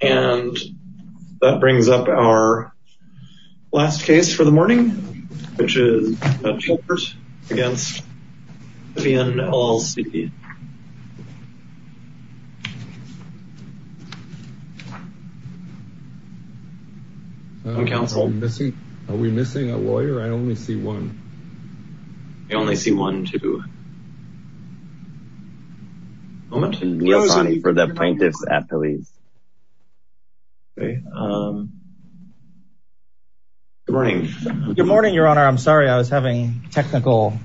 And that brings up our last case for the morning, which is Tolbert v. Sisyphian, LLC. Are we missing a lawyer? I only see one. I only see one, too. Neil Sonny for the plaintiffs at police. Good morning. Good morning, Your Honor. I'm sorry. I was having technical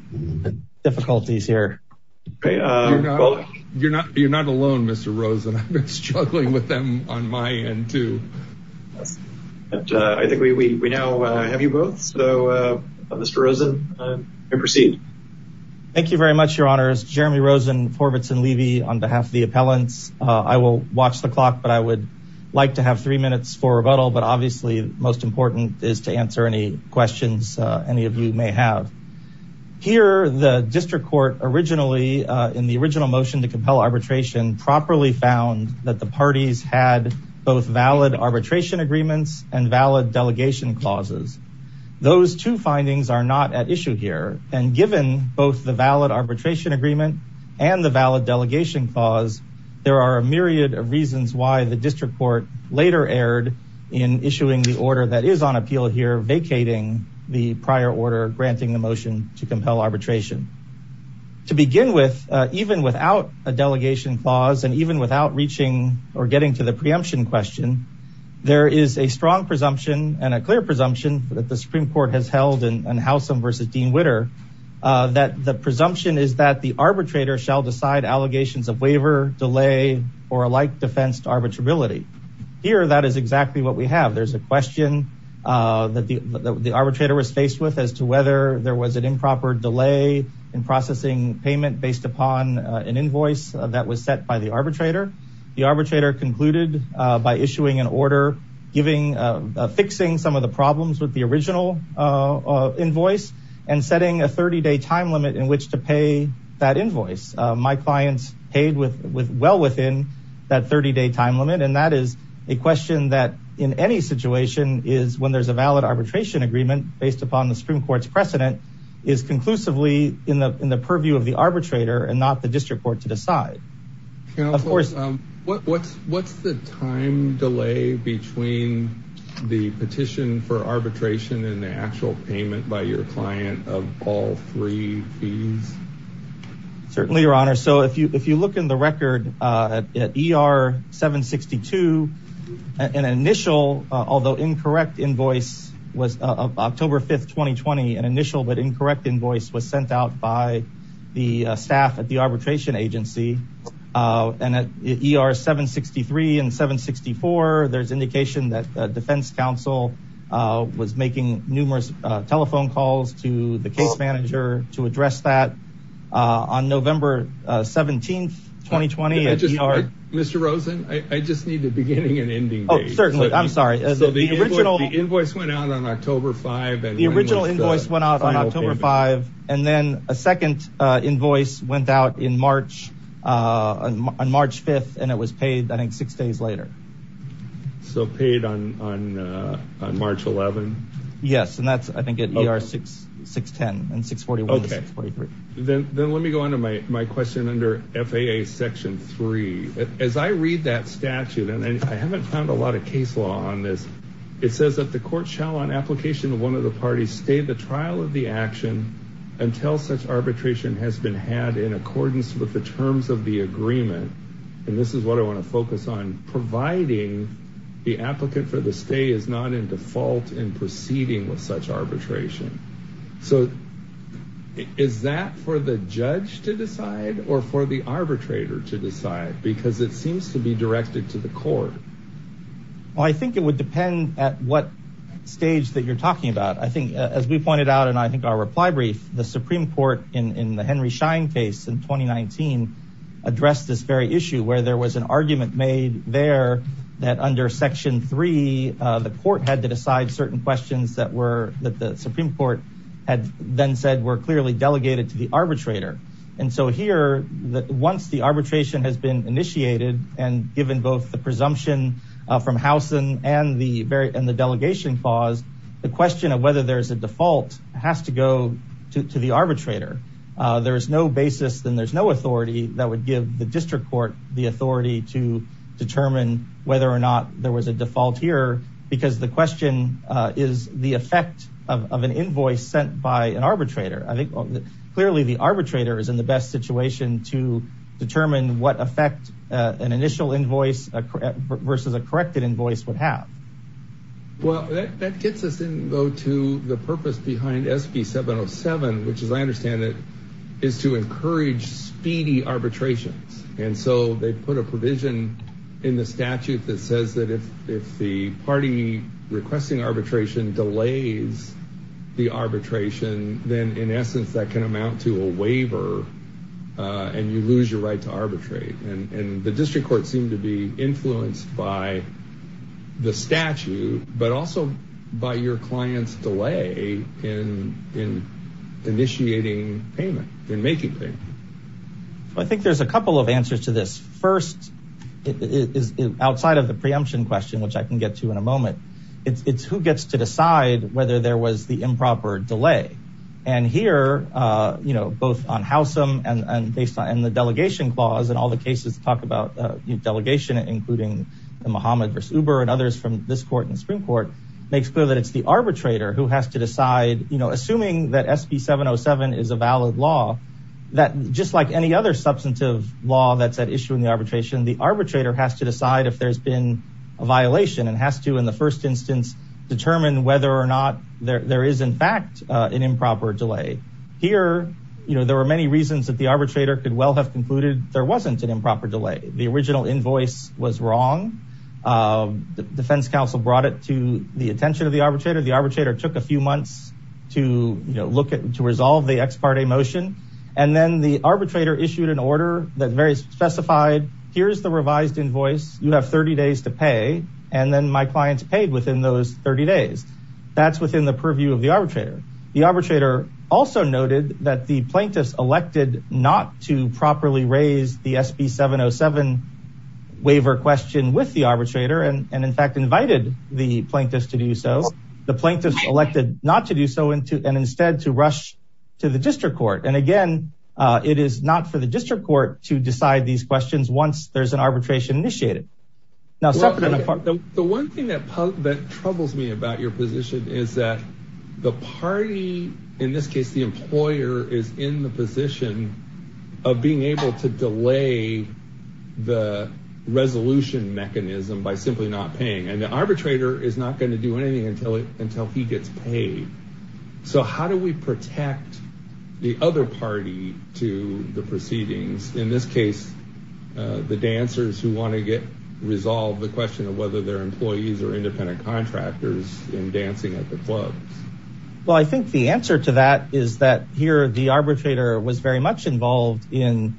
difficulties here. You're not alone, Mr. Rosen. I've been struggling with them on my end, too. I think we now have you both. So, Mr. Rosen, you may proceed. Thank you very much, Your Honors. Jeremy Rosen, Horvitz & Levy on behalf of the appellants. I will watch the clock, but I would like to have three minutes for rebuttal. But obviously, most important is to answer any questions any of you may have. Here, the district court originally, in the original motion to compel arbitration, properly found that the parties had both valid arbitration agreements and valid delegation clauses. Those two findings are not at issue here. And given both the valid arbitration agreement and the valid delegation clause, there are a myriad of reasons why the district court later erred in issuing the order that is on appeal here, vacating the prior order granting the motion to compel arbitration. To begin with, even without a delegation clause and even without reaching or getting to the preemption question, there is a strong presumption and a clear presumption that the Supreme Court has held in Howsam v. Dean Witter that the presumption is that the arbitrator shall decide allegations of waiver, delay, or a like defense to arbitrability. Here, that is exactly what we have. There's a question that the arbitrator was faced with as to whether there was an improper delay in processing payment based upon an invoice that was set by the arbitrator. The arbitrator concluded by issuing an order fixing some of the problems with the original invoice and setting a 30-day time limit in which to pay that invoice. My clients paid well within that 30-day time limit, and that is a question that in any situation is when there's a valid arbitration agreement based upon the Supreme Court's precedent is conclusively in the purview of the arbitrator and not the district court to decide. What's the time delay between the petition for arbitration and the actual payment by your client of all three fees? Certainly, Your Honor. So if you look in the record at ER 762, an initial, although incorrect, invoice was October 5, 2020. An initial but incorrect invoice was sent out by the staff at the arbitration agency. And at ER 763 and 764, there's indication that the defense counsel was making numerous telephone calls to the case manager to address that. On November 17, 2020, at ER— Mr. Rosen, I just need the beginning and ending date. Oh, certainly. I'm sorry. So the invoice went out on October 5, and— The original invoice went out on October 5, and then a second invoice went out on March 5, and it was paid, I think, six days later. So paid on March 11? Yes, and that's, I think, at ER 610 and 641 and 643. Okay. Then let me go on to my question under FAA Section 3. As I read that statute, and I haven't found a lot of case law on this, it says that the court shall, on application of one of the parties, stay the trial of the action until such arbitration has been had in accordance with the terms of the agreement. And this is what I want to focus on. Providing the applicant for the stay is not in default in proceeding with such arbitration. So is that for the judge to decide or for the arbitrator to decide? Because it seems to be directed to the court. Well, I think it would depend at what stage that you're talking about. As we pointed out in, I think, our reply brief, the Supreme Court in the Henry Schein case in 2019 addressed this very issue where there was an argument made there that under Section 3, the court had to decide certain questions that the Supreme Court had then said were clearly delegated to the arbitrator. And so here, once the arbitration has been initiated and given both the presumption from Howson and the delegation clause, the question of whether there's a default has to go to the arbitrator. There is no basis and there's no authority that would give the district court the authority to determine whether or not there was a default here because the question is the effect of an invoice sent by an arbitrator. I think clearly the arbitrator is in the best situation to determine what effect an initial invoice versus a corrected invoice would have. Well, that gets us in, though, to the purpose behind SB 707, which, as I understand it, is to encourage speedy arbitrations. And so they put a provision in the statute that says that if the party requesting arbitration delays the arbitration, then in essence, that can amount to a waiver and you lose your right to arbitrate. And the district court seemed to be influenced by the statute, but also by your client's delay in initiating payment, in making payment. I think there's a couple of answers to this. First, outside of the preemption question, which I can get to in a moment, it's who gets to decide whether there was the improper delay. And here, you know, both on Howsam and the delegation clause and all the cases talk about delegation, including Mohammed v. Uber and others from this court and Supreme Court, makes clear that it's the arbitrator who has to decide, you know, assuming that SB 707 is a valid law, that just like any other substantive law that's at issue in the arbitration, the arbitrator has to decide if there's been a violation and has to, in the first instance, determine whether or not there is, in fact, an improper delay. Here, you know, there were many reasons that the arbitrator could well have concluded there wasn't an improper delay. The original invoice was wrong. The defense counsel brought it to the attention of the arbitrator. The arbitrator took a few months to, you know, look at, to resolve the ex parte motion. And then the arbitrator issued an order that very specified, here's the revised invoice. You have 30 days to pay. And then my clients paid within those 30 days. That's within the purview of the arbitrator. The arbitrator also noted that the plaintiffs elected not to properly raise the SB 707 waiver question with the arbitrator and, in fact, invited the plaintiffs to do so. The plaintiffs elected not to do so and instead to rush to the district court. And again, it is not for the district court to decide these questions once there's an arbitration initiated. The one thing that troubles me about your position is that the party, in this case the employer, is in the position of being able to delay the resolution mechanism by simply not paying. And the arbitrator is not going to do anything until he gets paid. So how do we protect the other party to the proceedings? In this case, the dancers who want to get resolved the question of whether they're employees or independent contractors in dancing at the clubs. Well, I think the answer to that is that here the arbitrator was very much involved in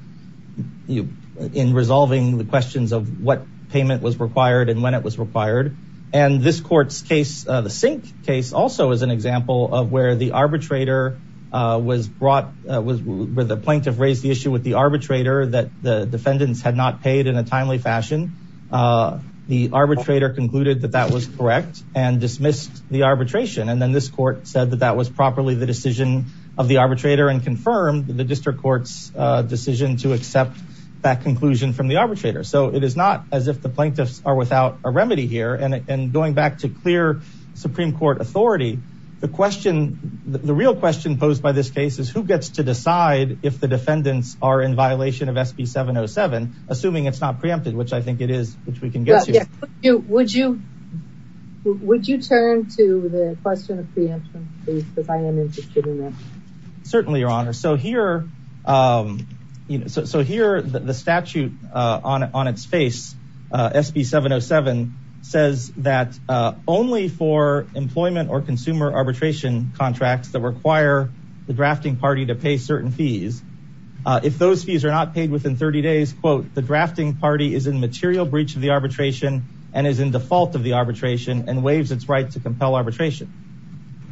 resolving the questions of what payment was required and when it was required. And this court's case, the sink case, also is an example of where the arbitrator was brought, where the plaintiff raised the issue with the arbitrator that the defendants had not paid in a timely fashion. The arbitrator concluded that that was correct and dismissed the arbitration. And then this court said that that was properly the decision of the arbitrator and confirmed the district court's decision to accept that conclusion from the arbitrator. So it is not as if the plaintiffs are without a remedy here. And going back to clear Supreme Court authority, the question, the real question posed by this case is who gets to decide if the defendants are in violation of SB 707, assuming it's not preempted, which I think it is, which we can get to. Would you, would you, would you turn to the question of preemption, please? Because I am interested in that. Certainly, Your Honor. So here, so here the statute on its face, SB 707, says that only for employment or consumer arbitration contracts that require the drafting party to pay certain fees. If those fees are not paid within 30 days, quote, the drafting party is in material breach of the arbitration and is in default of the arbitration and waives its right to compel arbitration.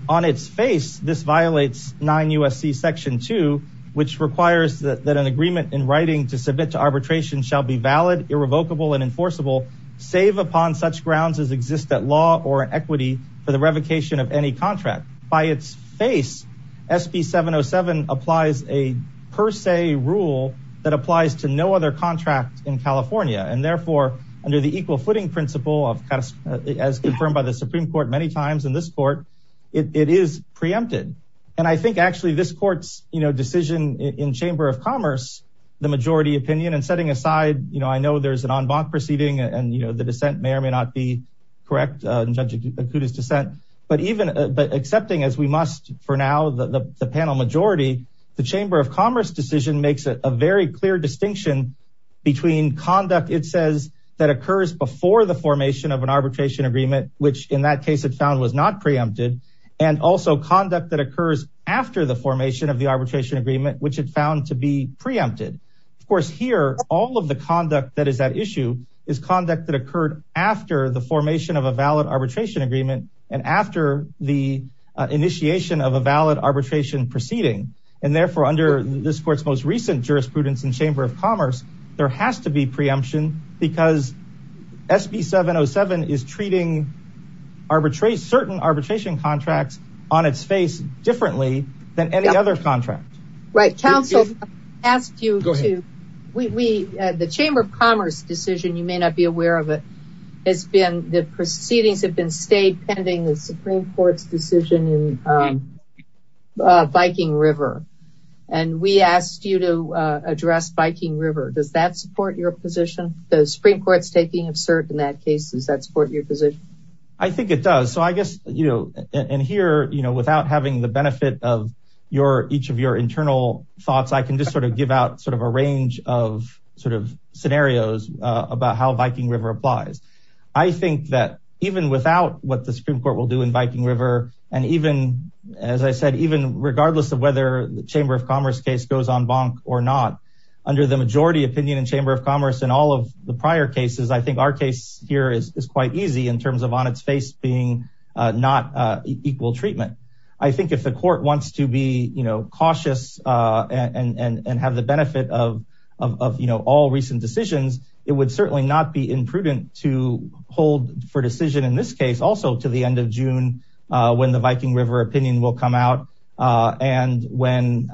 On its face, this violates 9 U.S.C. Section 2, which requires that an agreement in writing to submit to arbitration shall be valid, irrevocable and enforceable, save upon such grounds as exist at law or equity for the revocation of any contract. By its face, SB 707 applies a per se rule that applies to no other contract in California. And therefore, under the equal footing principle of, as confirmed by the Supreme Court many times in this court, it is preempted. And I think actually this court's, you know, decision in Chamber of Commerce, the majority opinion and setting aside, you know, I know there's an en banc proceeding and, you know, the dissent may or may not be correct in Judge Akuta's dissent. But even accepting, as we must for now, the panel majority, the Chamber of Commerce decision makes a very clear distinction between conduct, it says, that occurs before the formation of an arbitration agreement, which in that case it found was not preempted, and also conduct that occurs after the formation of the arbitration agreement, which it found to be preempted. Of course, here, all of the conduct that is at issue is conduct that occurred after the formation of a valid arbitration agreement and after the initiation of a valid arbitration proceeding. And therefore, under this court's most recent jurisprudence in Chamber of Commerce, there has to be preemption because SB 707 is treating arbitrate certain arbitration contracts on its face differently than any other contract. Right. Council asked you to, we, the Chamber of Commerce decision, you may not be aware of it, has been, the proceedings have been stayed pending the Supreme Court's decision in Viking River. And we asked you to address Viking River. Does that support your position? The Supreme Court's taking of cert in that case, does that support your position? I think it does. So I guess, you know, and here, you know, without having the benefit of your each of your internal thoughts, I can just sort of give out sort of a range of sort of scenarios about how Viking River applies. I think that even without what the Supreme Court will do in Viking River, and even, as I said, even regardless of whether the Chamber of Commerce case goes en banc or not, under the majority opinion in Chamber of Commerce and all of the prior cases, I think our case here is quite easy in terms of on its face being not equal treatment. I think if the court wants to be, you know, cautious and have the benefit of, you know, all recent decisions, it would certainly not be imprudent to hold for decision in this case also to the end of June, when the Viking River opinion will come out. And when,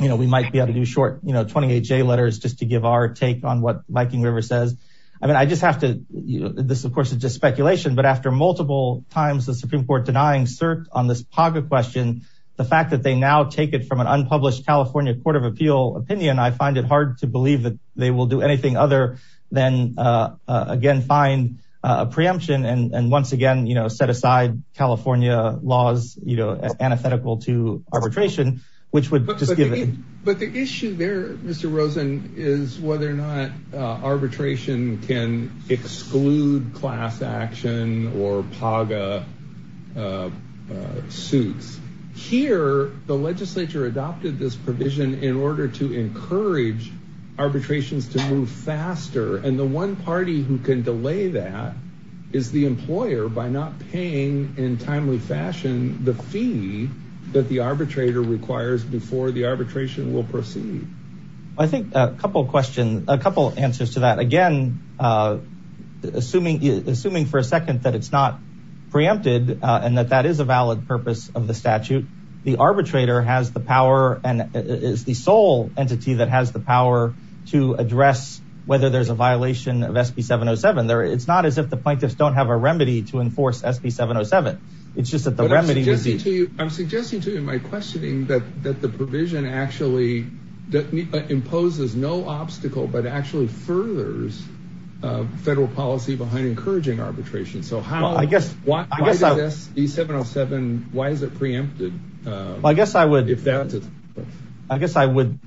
you know, we might be able to do short, you know, 28-J letters just to give our take on what Viking River says. I mean, I just have to, you know, this, of course, is just speculation, but after multiple times the Supreme Court denying cert on this PAGA question, the fact that they now take it from an unpublished California Court of Appeal opinion, I find it hard to believe that they will do anything other than, again, find a preemption and once again, you know, set aside California laws, you know, antithetical to arbitration, which would just give it. But the issue there, Mr. Rosen, is whether or not arbitration can exclude class action or PAGA suits. Here, the legislature adopted this provision in order to encourage arbitrations to move faster, and the one party who can delay that is the employer by not paying in timely fashion the fee that the arbitrator requires before the arbitration will proceed. I think a couple questions, a couple answers to that. Again, assuming for a second that it's not preempted and that that is a valid purpose of the statute, the arbitrator has the power and is the sole entity that has the power to address whether there's a violation of SB 707. It's not as if the plaintiffs don't have a remedy to enforce SB 707. It's just that the remedy... I'm suggesting to you my questioning that the provision actually imposes no obstacle but actually furthers federal policy behind encouraging arbitration. So how... I guess... Why is SB 707, why is it preempted? I guess I would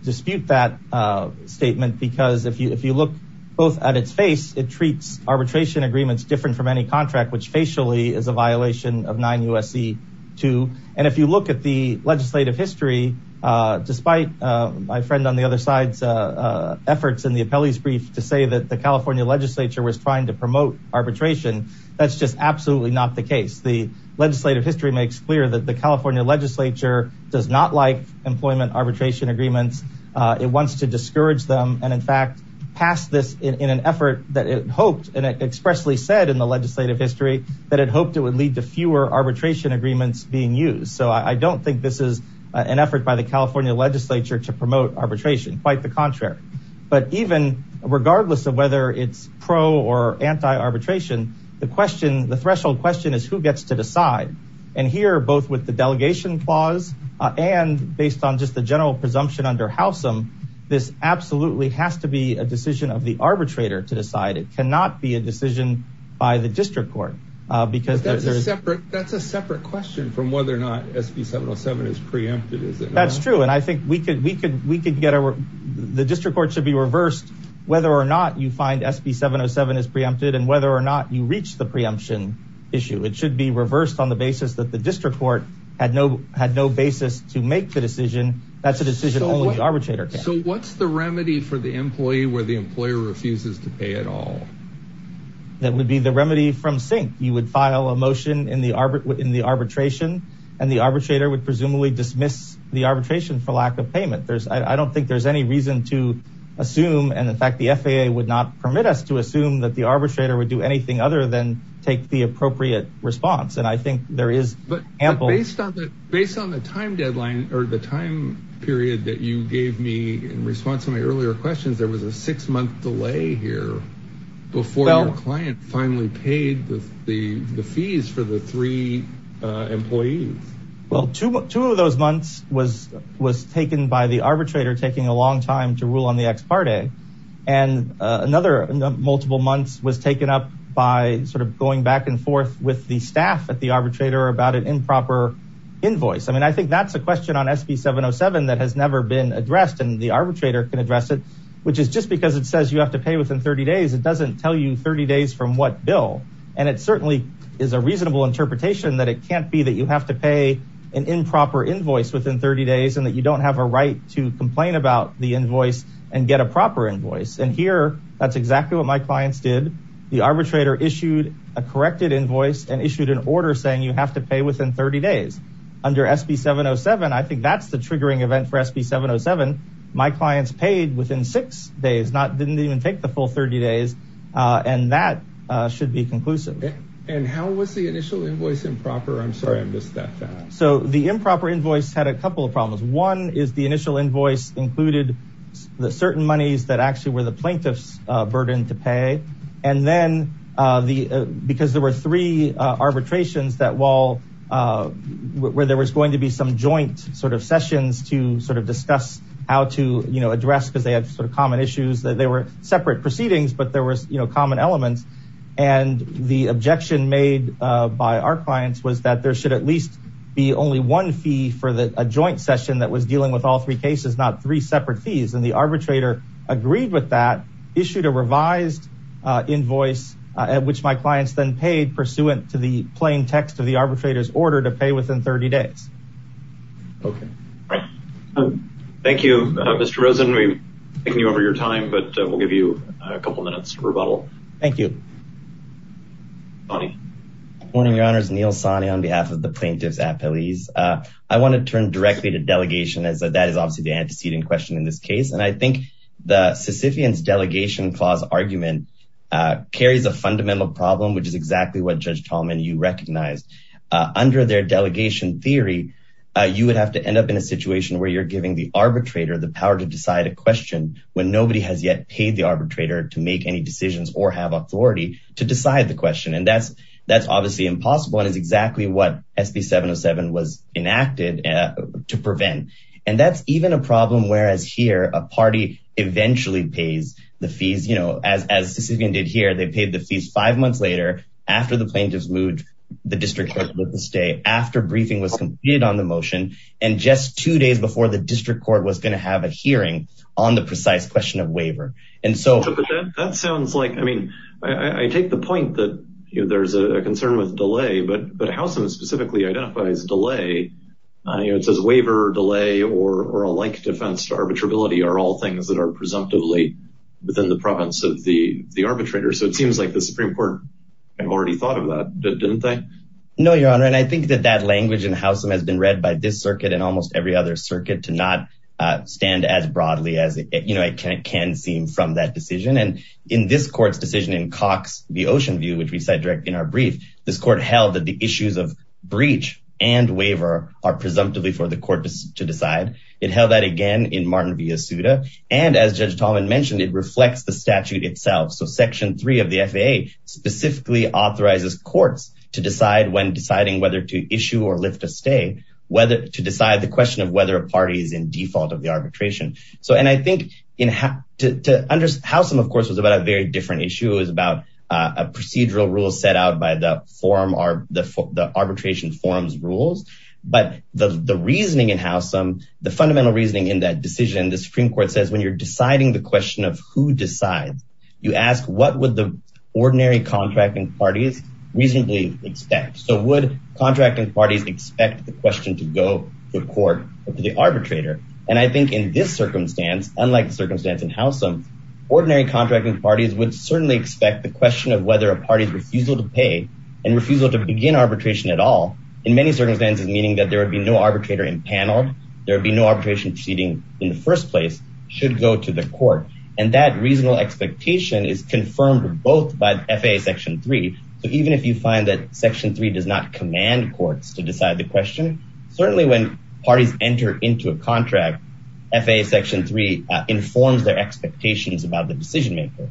dispute that statement because if you look both at its face, it treats arbitration agreements different from any contract, which facially is a violation of 9 U.S.C. 2. And if you look at the legislative history, despite my friend on the other side's efforts in the appellee's brief to say that the California legislature was trying to promote arbitration, that's just absolutely not the case. The legislative history makes clear that the California legislature does not like employment arbitration agreements. It wants to discourage them and in fact passed this in an effort that it hoped and expressly said in the legislative history that it hoped it would lead to fewer arbitration agreements being used. So I don't think this is an effort by the California legislature to promote arbitration. Quite the contrary. But even regardless of whether it's pro or anti-arbitration, the question, the threshold question is who gets to decide. And here, both with the delegation clause and based on just the general presumption under Housam, this absolutely has to be a decision of the arbitrator to decide. It cannot be a decision by the district court because... That's a separate question from whether or not SB 707 is preempted, is it not? That's true. And I think we could get a... The district court should be reversed whether or not you find SB 707 is preempted and whether or not you reach the preemption issue. It should be reversed on the basis that the district court had no basis to make the decision. That's a decision only the arbitrator can make. So what's the remedy for the employee where the employer refuses to pay at all? That would be the remedy from sink. You would file a motion in the arbitration and the arbitrator would presumably dismiss the arbitration for lack of payment. I don't think there's any reason to assume. And in fact, the FAA would not permit us to assume that the arbitrator would do anything other than take the appropriate response. And I think there is ample... The time period that you gave me in response to my earlier questions, there was a six month delay here before your client finally paid the fees for the three employees. Well, two of those months was taken by the arbitrator taking a long time to rule on the ex parte. And another multiple months was taken up by sort of going back and forth with the staff at the arbitrator about an improper invoice. I mean, I think that's a question on SB 707 that has never been addressed and the arbitrator can address it. Which is just because it says you have to pay within 30 days, it doesn't tell you 30 days from what bill. And it certainly is a reasonable interpretation that it can't be that you have to pay an improper invoice within 30 days and that you don't have a right to complain about the invoice and get a proper invoice. And here, that's exactly what my clients did. The arbitrator issued a corrected invoice and issued an order saying you have to pay within 30 days. Under SB 707, I think that's the triggering event for SB 707. My clients paid within six days, didn't even take the full 30 days. And that should be conclusive. And how was the initial invoice improper? I'm sorry I'm just that fast. So the improper invoice had a couple of problems. One is the initial invoice included the certain monies that actually were the plaintiff's burden to pay. And then because there were three arbitrations where there was going to be some joint sort of sessions to sort of discuss how to address because they had sort of common issues. They were separate proceedings, but there was common elements. And the objection made by our clients was that there should at least be only one fee for a joint session that was dealing with all three cases, not three separate fees. And the arbitrator agreed with that, issued a revised invoice at which my clients then paid pursuant to the plain text of the arbitrator's order to pay within 30 days. Okay. Thank you, Mr. Rosen. We've taken you over your time, but we'll give you a couple minutes to rebuttal. Thank you. Morning, Your Honors, Neil Sani on behalf of the plaintiff's appellees. I want to turn directly to delegation as that is obviously the antecedent question in this case. And I think the Sisyphean's delegation clause argument carries a fundamental problem, which is exactly what Judge Tallman, you recognized under their delegation theory, you would have to end up in a situation where you're giving the arbitrator the power to decide a question when nobody has yet paid the arbitrator to make any decisions or have authority to decide the question. And that's, that's obviously impossible and is exactly what SB 707 was enacted to prevent. And that's even a problem, whereas here a party eventually pays the fees, you know, as Sisyphean did here, they paid the fees five months later, after the plaintiff's moved the district court to stay, after briefing was completed on the motion, and just two days before the district court was going to have a hearing on the precise question of waiver. That sounds like, I mean, I take the point that there's a concern with delay, but Housam specifically identifies delay. It says waiver, delay, or a like defense to arbitrability are all things that are presumptively within the province of the arbitrator. So it seems like the Supreme Court had already thought of that, didn't they? No, Your Honor, and I think that that language in Housam has been read by this circuit and almost every other circuit to not stand as broadly as it can seem from that decision. And in this court's decision in Cox v. Oceanview, which we cite directly in our brief, this court held that the issues of breach and waiver are presumptively for the court to decide. It held that again in Martin v. When deciding whether to issue or lift a stay, to decide the question of whether a party is in default of the arbitration. And I think Housam, of course, was about a very different issue. It was about a procedural rule set out by the arbitration forum's rules. But the reasoning in Housam, the fundamental reasoning in that decision, the Supreme Court says when you're deciding the question of who decides, you ask what would the ordinary contracting parties reasonably expect? So would contracting parties expect the question to go to court or to the arbitrator? And I think in this circumstance, unlike the circumstance in Housam, ordinary contracting parties would certainly expect the question of whether a party's refusal to pay and refusal to begin arbitration at all, in many circumstances, meaning that there would be no arbitrator in panel, there would be no arbitration proceeding in the first place, should go to the court. And that reasonable expectation is confirmed both by FAA section three. So even if you find that section three does not command courts to decide the question, certainly when parties enter into a contract, FAA section three informs their expectations about the decision maker.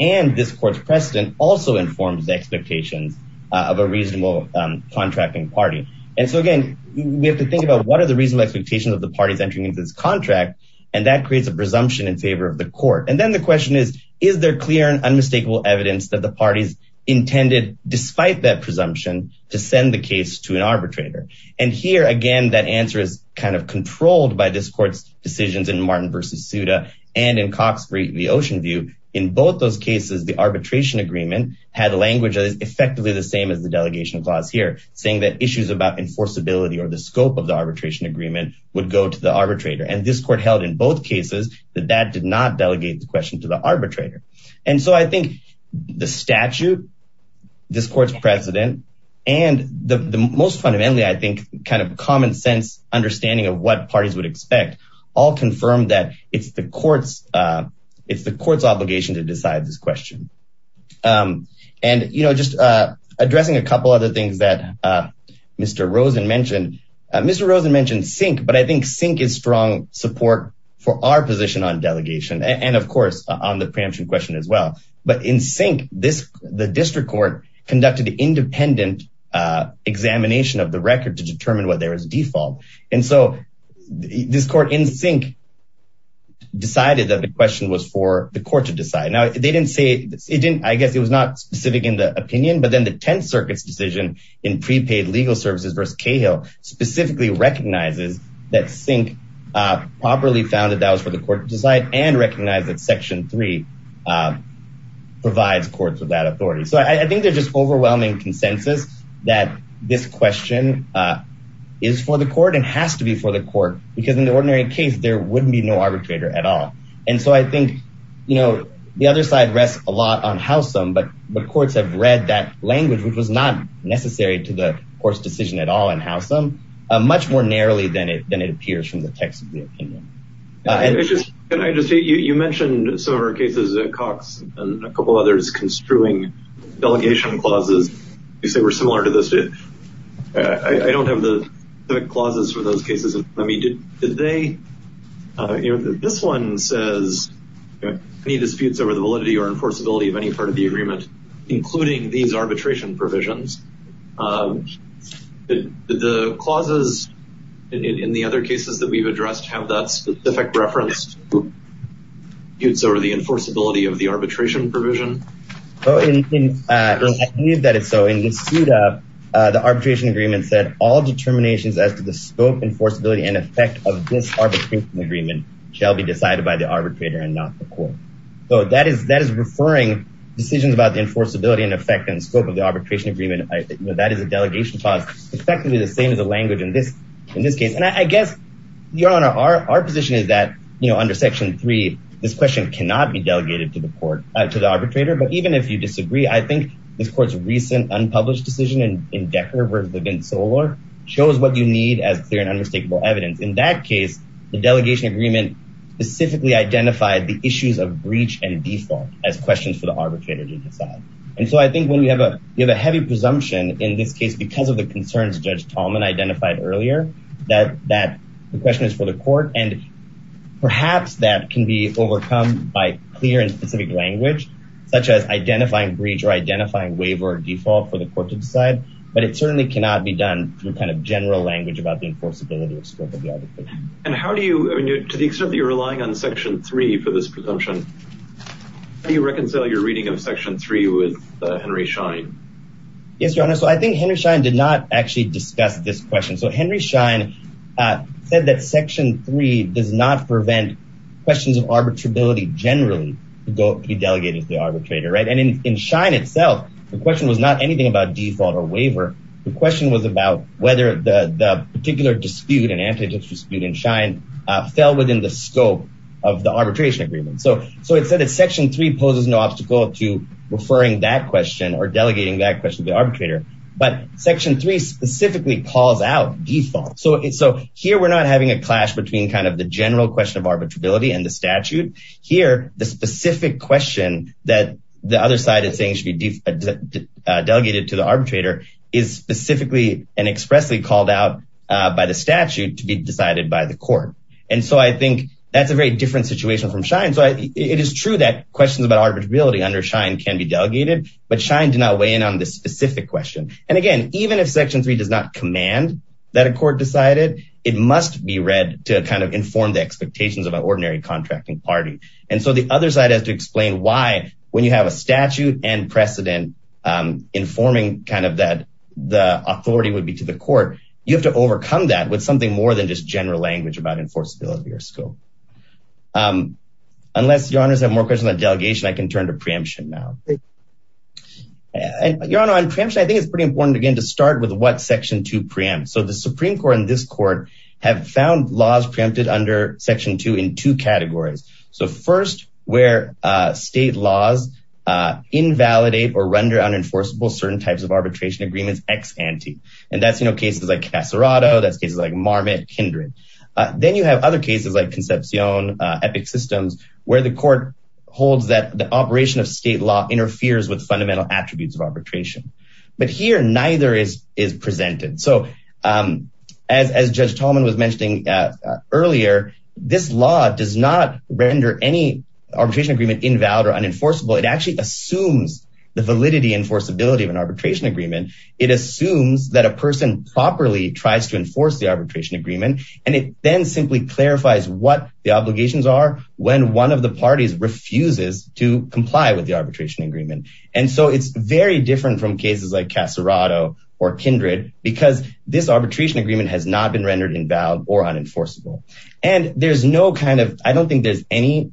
And this court's precedent also informs the expectations of a reasonable contracting party. And so again, we have to think about what are the reasonable expectations of the parties entering into this contract. And that creates a presumption in favor of the court. And then the question is, is there clear and unmistakable evidence that the parties intended, despite that presumption, to send the case to an arbitrator? And here, again, that answer is kind of controlled by this court's decisions in Martin v. Souda and in Cox v. Oceanview. In both those cases, the arbitration agreement had language that is effectively the same as the delegation clause here, saying that issues about enforceability or the scope of the arbitration agreement would go to the arbitrator. And this court held in both cases that that did not delegate the question to the arbitrator. And so I think the statute, this court's precedent, and the most fundamentally, I think, kind of common sense understanding of what parties would expect, all confirm that it's the court's obligation to decide this question. And, you know, just addressing a couple other things that Mr. Rosen mentioned. Mr. Rosen mentioned SINK, but I think SINK is strong support for our position on delegation, and of course, on the preemption question as well. But in SINK, the district court conducted the independent examination of the record to determine what their default. And so this court in SINK decided that the question was for the court to decide. Now, they didn't say it didn't, I guess it was not specific in the opinion, but then the Tenth Circuit's decision in prepaid legal services versus Cahill specifically recognizes that SINK properly found that that was for the court to decide and recognize that Section 3 provides courts with that authority. So I think there's just overwhelming consensus that this question is for the court and has to be for the court, because in the ordinary case, there wouldn't be no arbitrator at all. And so I think, you know, the other side rests a lot on Howsam, but the courts have read that language, which was not necessary to the court's decision at all in Howsam, much more narrowly than it appears from the text of the opinion. Can I just say, you mentioned some of our cases, Cox and a couple others construing delegation clauses. You say we're similar to this. I don't have the clauses for those cases. I mean, did they? This one says any disputes over the validity or enforceability of any part of the agreement, including these arbitration provisions. Did the clauses in the other cases that we've addressed have that specific reference to disputes over the enforceability of the arbitration provision? I believe that it's so. In Yusuda, the arbitration agreement said all determinations as to the scope, enforceability and effect of this arbitration agreement shall be decided by the arbitrator and not the court. So that is referring decisions about the enforceability and effect and scope of the arbitration agreement. That is a delegation clause, effectively the same as the language in this case. And I guess, Your Honor, our position is that, you know, under section three, this question cannot be delegated to the court, to the arbitrator. But even if you disagree, I think this court's recent unpublished decision in Decker v. Levin-Solor shows what you need as clear and unmistakable evidence. In that case, the delegation agreement specifically identified the issues of breach and default as questions for the arbitrator to decide. And so I think when you have a heavy presumption in this case because of the concerns Judge Tallman identified earlier, that the question is for the court. And perhaps that can be overcome by clear and specific language, such as identifying breach or identifying waiver or default for the court to decide. But it certainly cannot be done through kind of general language about the enforceability of scope of the arbitration. And how do you, to the extent that you're relying on section three for this presumption, how do you reconcile your reading of section three with Henry Schein? Yes, Your Honor. So I think Henry Schein did not actually discuss this question. So Henry Schein said that section three does not prevent questions of arbitrability generally to be delegated to the arbitrator. And in Schein itself, the question was not anything about default or waiver. The question was about whether the particular dispute, an antitrust dispute in Schein, fell within the scope of the arbitration agreement. So it said that section three poses no obstacle to referring that question or delegating that question to the arbitrator. But section three specifically calls out default. So here we're not having a clash between kind of the general question of arbitrability and the statute. Here, the specific question that the other side is saying should be delegated to the arbitrator is specifically and expressly called out by the statute to be decided by the court. And so I think that's a very different situation from Schein. So it is true that questions about arbitrability under Schein can be delegated, but Schein did not weigh in on this specific question. And again, even if section three does not command that a court decided, it must be read to kind of inform the expectations of an ordinary contracting party. And so the other side has to explain why, when you have a statute and precedent informing kind of that the authority would be to the court, you have to overcome that with something more than just general language about enforceability or scope. Unless your honors have more questions on delegation, I can turn to preemption now. Your Honor, on preemption, I think it's pretty important, again, to start with what section to preempt. So the Supreme Court and this court have found laws preempted under section two in two categories. So first, where state laws invalidate or render unenforceable certain types of arbitration agreements ex ante. And that's, you know, cases like Casarato, that's cases like Marmot, Kindred. Then you have other cases like Concepcion, Epic Systems, where the court holds that the operation of state law interferes with fundamental attributes of arbitration. But here, neither is presented. So as Judge Tolman was mentioning earlier, this law does not render any arbitration agreement invalid or unenforceable. It actually assumes the validity enforceability of an arbitration agreement. It assumes that a person properly tries to enforce the arbitration agreement, and it then simply clarifies what the obligations are when one of the parties refuses to comply with the arbitration agreement. And so it's very different from cases like Casarato or Kindred, because this arbitration agreement has not been rendered invalid or unenforceable. And there's no kind of, I don't think there's any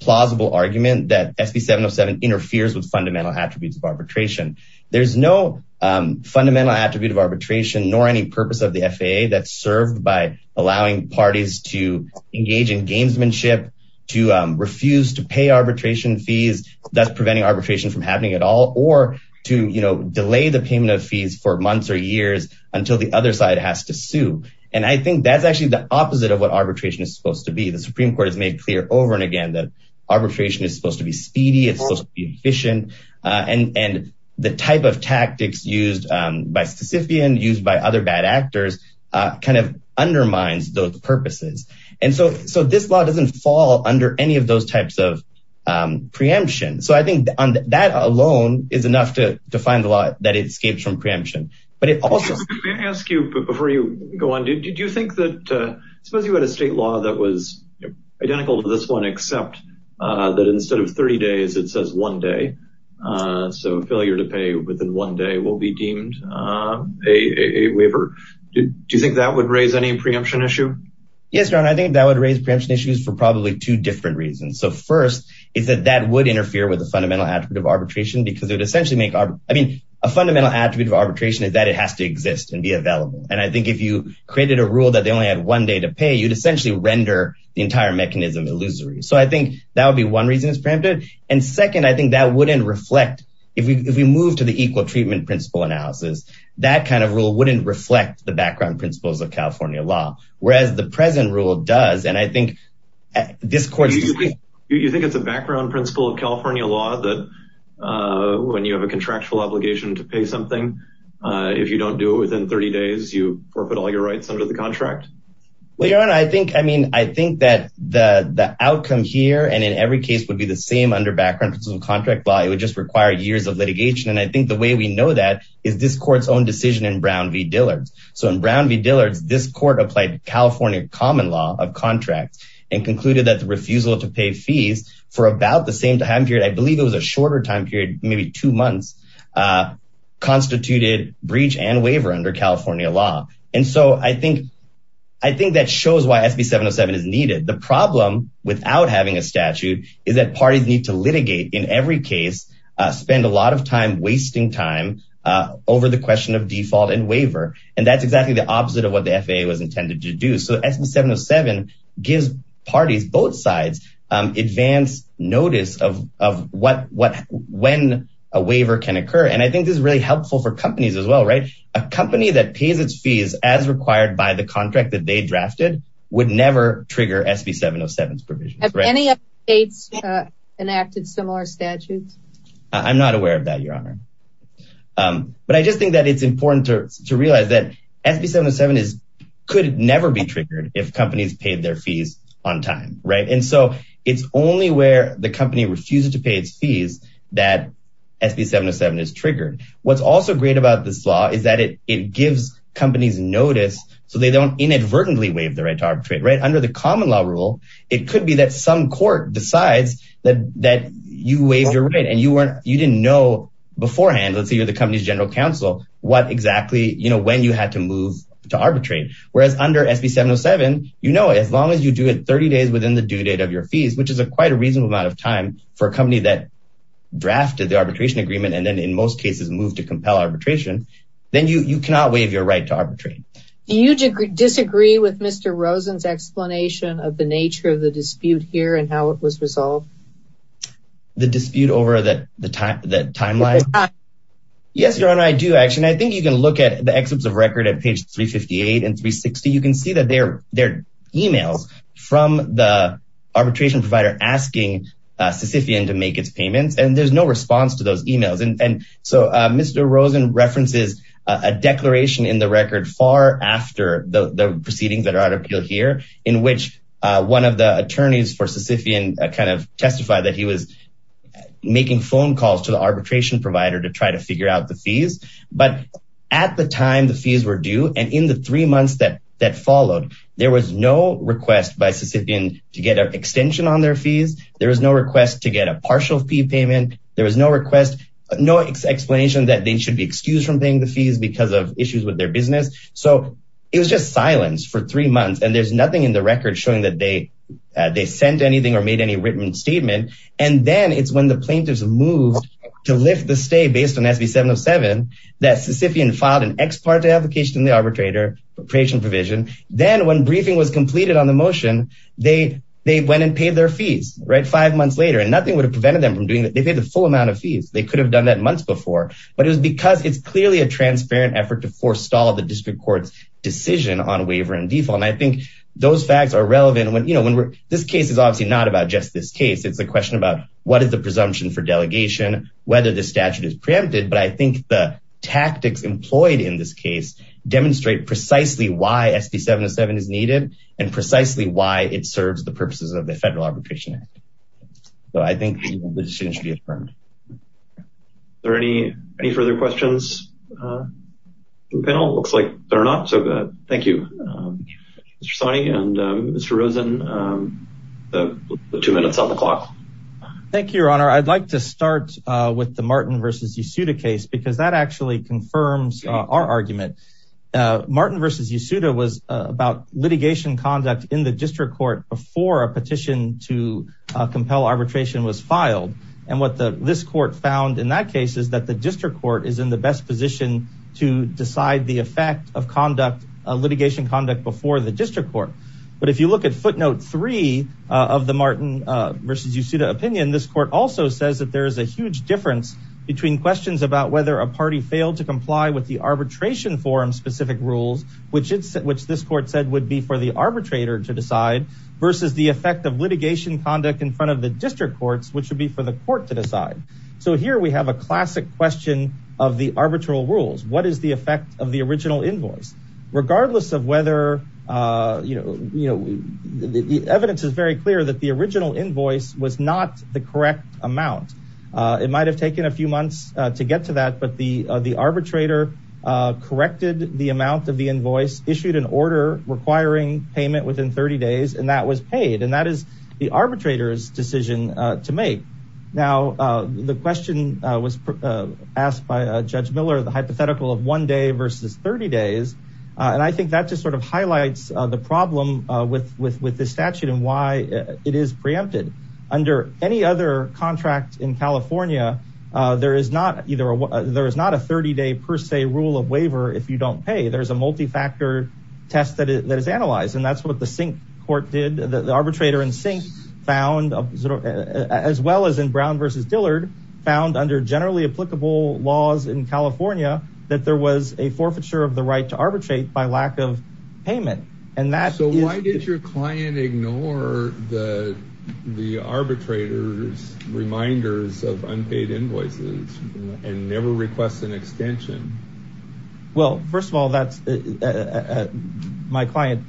plausible argument that SB 707 interferes with fundamental attributes of arbitration. There's no fundamental attribute of arbitration, nor any purpose of the FAA that's served by allowing parties to engage in gamesmanship, to refuse to pay arbitration fees, thus preventing arbitration from happening at all, or to, you know, delay the payment of fees for months or years until the other side has to sue. And I think that's actually the opposite of what arbitration is supposed to be. The Supreme Court has made clear over and again that arbitration is supposed to be speedy, it's supposed to be efficient, and the type of tactics used by Sisyphean, used by other bad actors, kind of undermines those purposes. And so this law doesn't fall under any of those types of preemption. So I think that alone is enough to define the law that it escapes from preemption. But it also... Let me go on. Did you think that, suppose you had a state law that was identical to this one, except that instead of 30 days, it says one day. So failure to pay within one day will be deemed a waiver. Do you think that would raise any preemption issue? Yes, Ron, I think that would raise preemption issues for probably two different reasons. So first, is that that would interfere with the fundamental attribute of arbitration because it would essentially make... I mean, a fundamental attribute of arbitration is that it has to exist and be available. And I think if you created a rule that they only had one day to pay, you'd essentially render the entire mechanism illusory. So I think that would be one reason it's preempted. And second, I think that wouldn't reflect... If we move to the equal treatment principle analysis, that kind of rule wouldn't reflect the background principles of California law, whereas the present rule does. And I think this court... Do you think it's a background principle of California law that when you have a contractual obligation to pay something, if you don't do it within 30 days, you forfeit all your rights under the contract? Well, your honor, I think, I mean, I think that the outcome here and in every case would be the same under background principle contract law, it would just require years of litigation. And I think the way we know that is this court's own decision in Brown v. Dillard's. So in Brown v. Dillard's, this court applied California common law of contracts and concluded that the refusal to pay fees for about the same time period, I believe it was a shorter time period, maybe two months, constituted breach and waiver under California law. And so I think that shows why SB 707 is needed. The problem without having a statute is that parties need to litigate in every case, spend a lot of time wasting time over the question of default and waiver. And that's exactly the opposite of what the FAA was intended to do. So SB 707 gives parties both sides advance notice of what when a waiver can occur. And I think this is really helpful for companies as well, right? A company that pays its fees as required by the contract that they drafted would never trigger SB 707's provision. Have any states enacted similar statutes? I'm not aware of that, Your Honor. But I just think that it's important to realize that SB 707 could never be triggered if companies paid their fees on time, right? And so it's only where the company refuses to pay its fees that SB 707 is triggered. What's also great about this law is that it gives companies notice so they don't inadvertently waive the right to arbitrate, right? Under the common law rule, it could be that some court decides that you waived your right and you didn't know beforehand, let's say you're the company's general counsel, when you had to move to arbitrate. Whereas under SB 707, you know, as long as you do it 30 days within the due date of your fees, which is a quite a reasonable amount of time for a company that drafted the arbitration agreement and then in most cases moved to compel arbitration, then you cannot waive your right to arbitrate. Do you disagree with Mr. Rosen's explanation of the nature of the dispute here and how it was resolved? The dispute over the timeline? Yes, Your Honor, I do actually. I think you can look at the excerpts of record at page 358 and 360. You can see that there are emails from the arbitration provider asking Sisyphean to make its payments and there's no response to those emails. And so Mr. Rosen references a declaration in the record far after the proceedings that are at appeal here, in which one of the attorneys for Sisyphean kind of testified that he was making phone calls to the arbitration provider to try to figure out the fees. But at the time the fees were due and in the three months that that followed, there was no request by Sisyphean to get an extension on their fees. There was no request to get a partial fee payment. There was no request, no explanation that they should be excused from paying the fees because of issues with their business. So it was just silence for three months and there's nothing in the record showing that they sent anything or made any written statement. And then it's when the plaintiffs moved to lift the stay based on SB 707, that Sisyphean filed an ex parte application in the arbitration provision. And then when briefing was completed on the motion, they went and paid their fees, right? Five months later, and nothing would have prevented them from doing that. They paid the full amount of fees. They could have done that months before, but it was because it's clearly a transparent effort to forestall the district court's decision on waiver and default. And I think those facts are relevant. This case is obviously not about just this case. It's a question about what is the presumption for delegation, whether the statute is preempted. But I think the tactics employed in this case demonstrate precisely why SB 707 is needed and precisely why it serves the purposes of the Federal Arbitration Act. So I think the decision should be affirmed. Are there any further questions from the panel? Looks like there are not. So thank you, Mr. Sawney and Mr. Rosen. Two minutes on the clock. Thank you, Your Honor. I'd like to start with the Martin v. Yesuda case because that actually confirms our argument. Martin v. Yesuda was about litigation conduct in the district court before a petition to compel arbitration was filed. And what this court found in that case is that the district court is in the best position to decide the effect of litigation conduct before the district court. But if you look at footnote three of the Martin v. Yesuda opinion, this court also says that there is a huge difference between questions about whether a party failed to comply with the arbitration forum-specific rules, which this court said would be for the arbitrator to decide, versus the effect of litigation conduct in front of the district courts, which would be for the court to decide. So here we have a classic question of the arbitral rules. What is the effect of the original invoice? Regardless of whether, you know, the evidence is very clear that the original invoice was not the correct amount. It might have taken a few months to get to that, but the arbitrator corrected the amount of the invoice, issued an order requiring payment within 30 days, and that was paid. And that is the arbitrator's decision to make. Now, the question was asked by Judge Miller, the hypothetical of one day versus 30 days. And I think that just sort of highlights the problem with this statute and why it is preempted. Under any other contract in California, there is not a 30-day per se rule of waiver if you don't pay. There's a multi-factor test that is analyzed, and that's what the Sink Court did. The arbitrator in Sink found, as well as in Brown versus Dillard, found under generally applicable laws in California that there was a forfeiture of the right to arbitrate by lack of payment. And that is... So why did your client ignore the arbitrator's reminders of unpaid invoices and never request an extension? Well, first of all, my client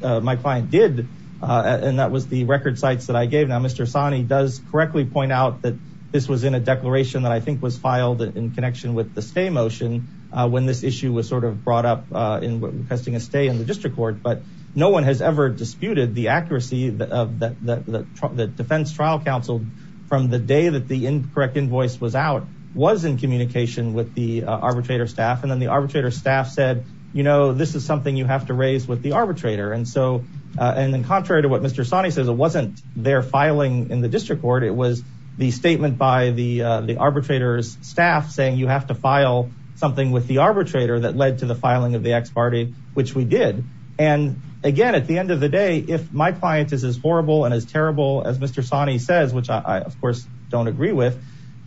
did, and that was the record sites that I gave. Now, Mr. Sani does correctly point out that this was in a declaration that I think was filed in connection with the stay motion when this issue was sort of brought up in requesting a stay in the district court. But no one has ever disputed the accuracy of the defense trial counsel from the day that the incorrect invoice was out was in communication with the arbitrator staff. And then the arbitrator staff said, you know, this is something you have to raise with the arbitrator. And so, and then contrary to what Mr. Sani says, it wasn't their filing in the district court. It was the statement by the arbitrator's staff saying you have to file something with the arbitrator that led to the filing of the ex parte, which we did. And again, at the end of the day, if my client is as horrible and as terrible as Mr. Sani says, which I, of course, don't agree with,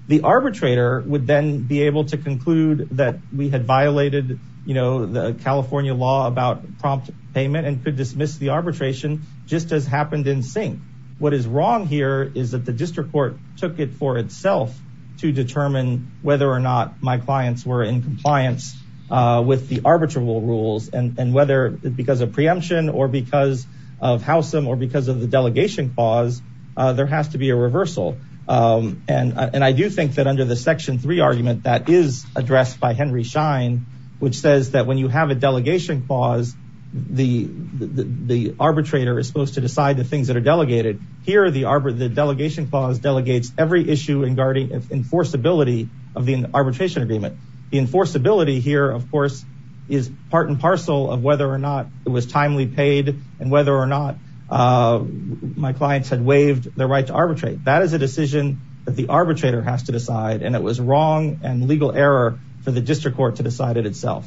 the arbitrator would then be able to conclude that we had violated, you know, the California law about prompt payment and could dismiss the arbitration just as happened in sync. What is wrong here is that the district court took it for itself to determine whether or not my clients were in compliance with the arbitrable rules and whether because of preemption or because of how some or because of the delegation clause, there has to be a reversal. And I do think that under the section three argument that is addressed by Henry Schein, which says that when you have a delegation clause, the arbitrator is supposed to decide the things that are delegated. Here, the delegation clause delegates every issue regarding enforceability of the arbitration agreement. The enforceability here, of course, is part and parcel of whether or not it was timely paid and whether or not my clients had waived their right to arbitrate. That is a decision that the arbitrator has to decide. And it was wrong and legal error for the district court to decide it itself.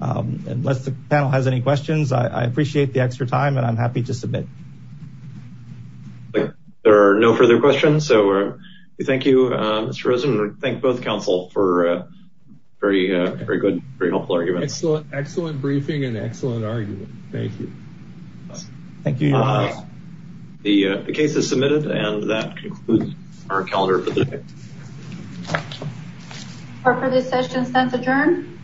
Unless the panel has any questions, I appreciate the extra time and I'm happy to submit. There are no further questions. So thank you, Mr. Rosen. Thank both counsel for a very, very good, very helpful argument. Excellent, excellent briefing and excellent argument. Thank you. Thank you. The case is submitted and that concludes our calendar. For this session, sense adjourn.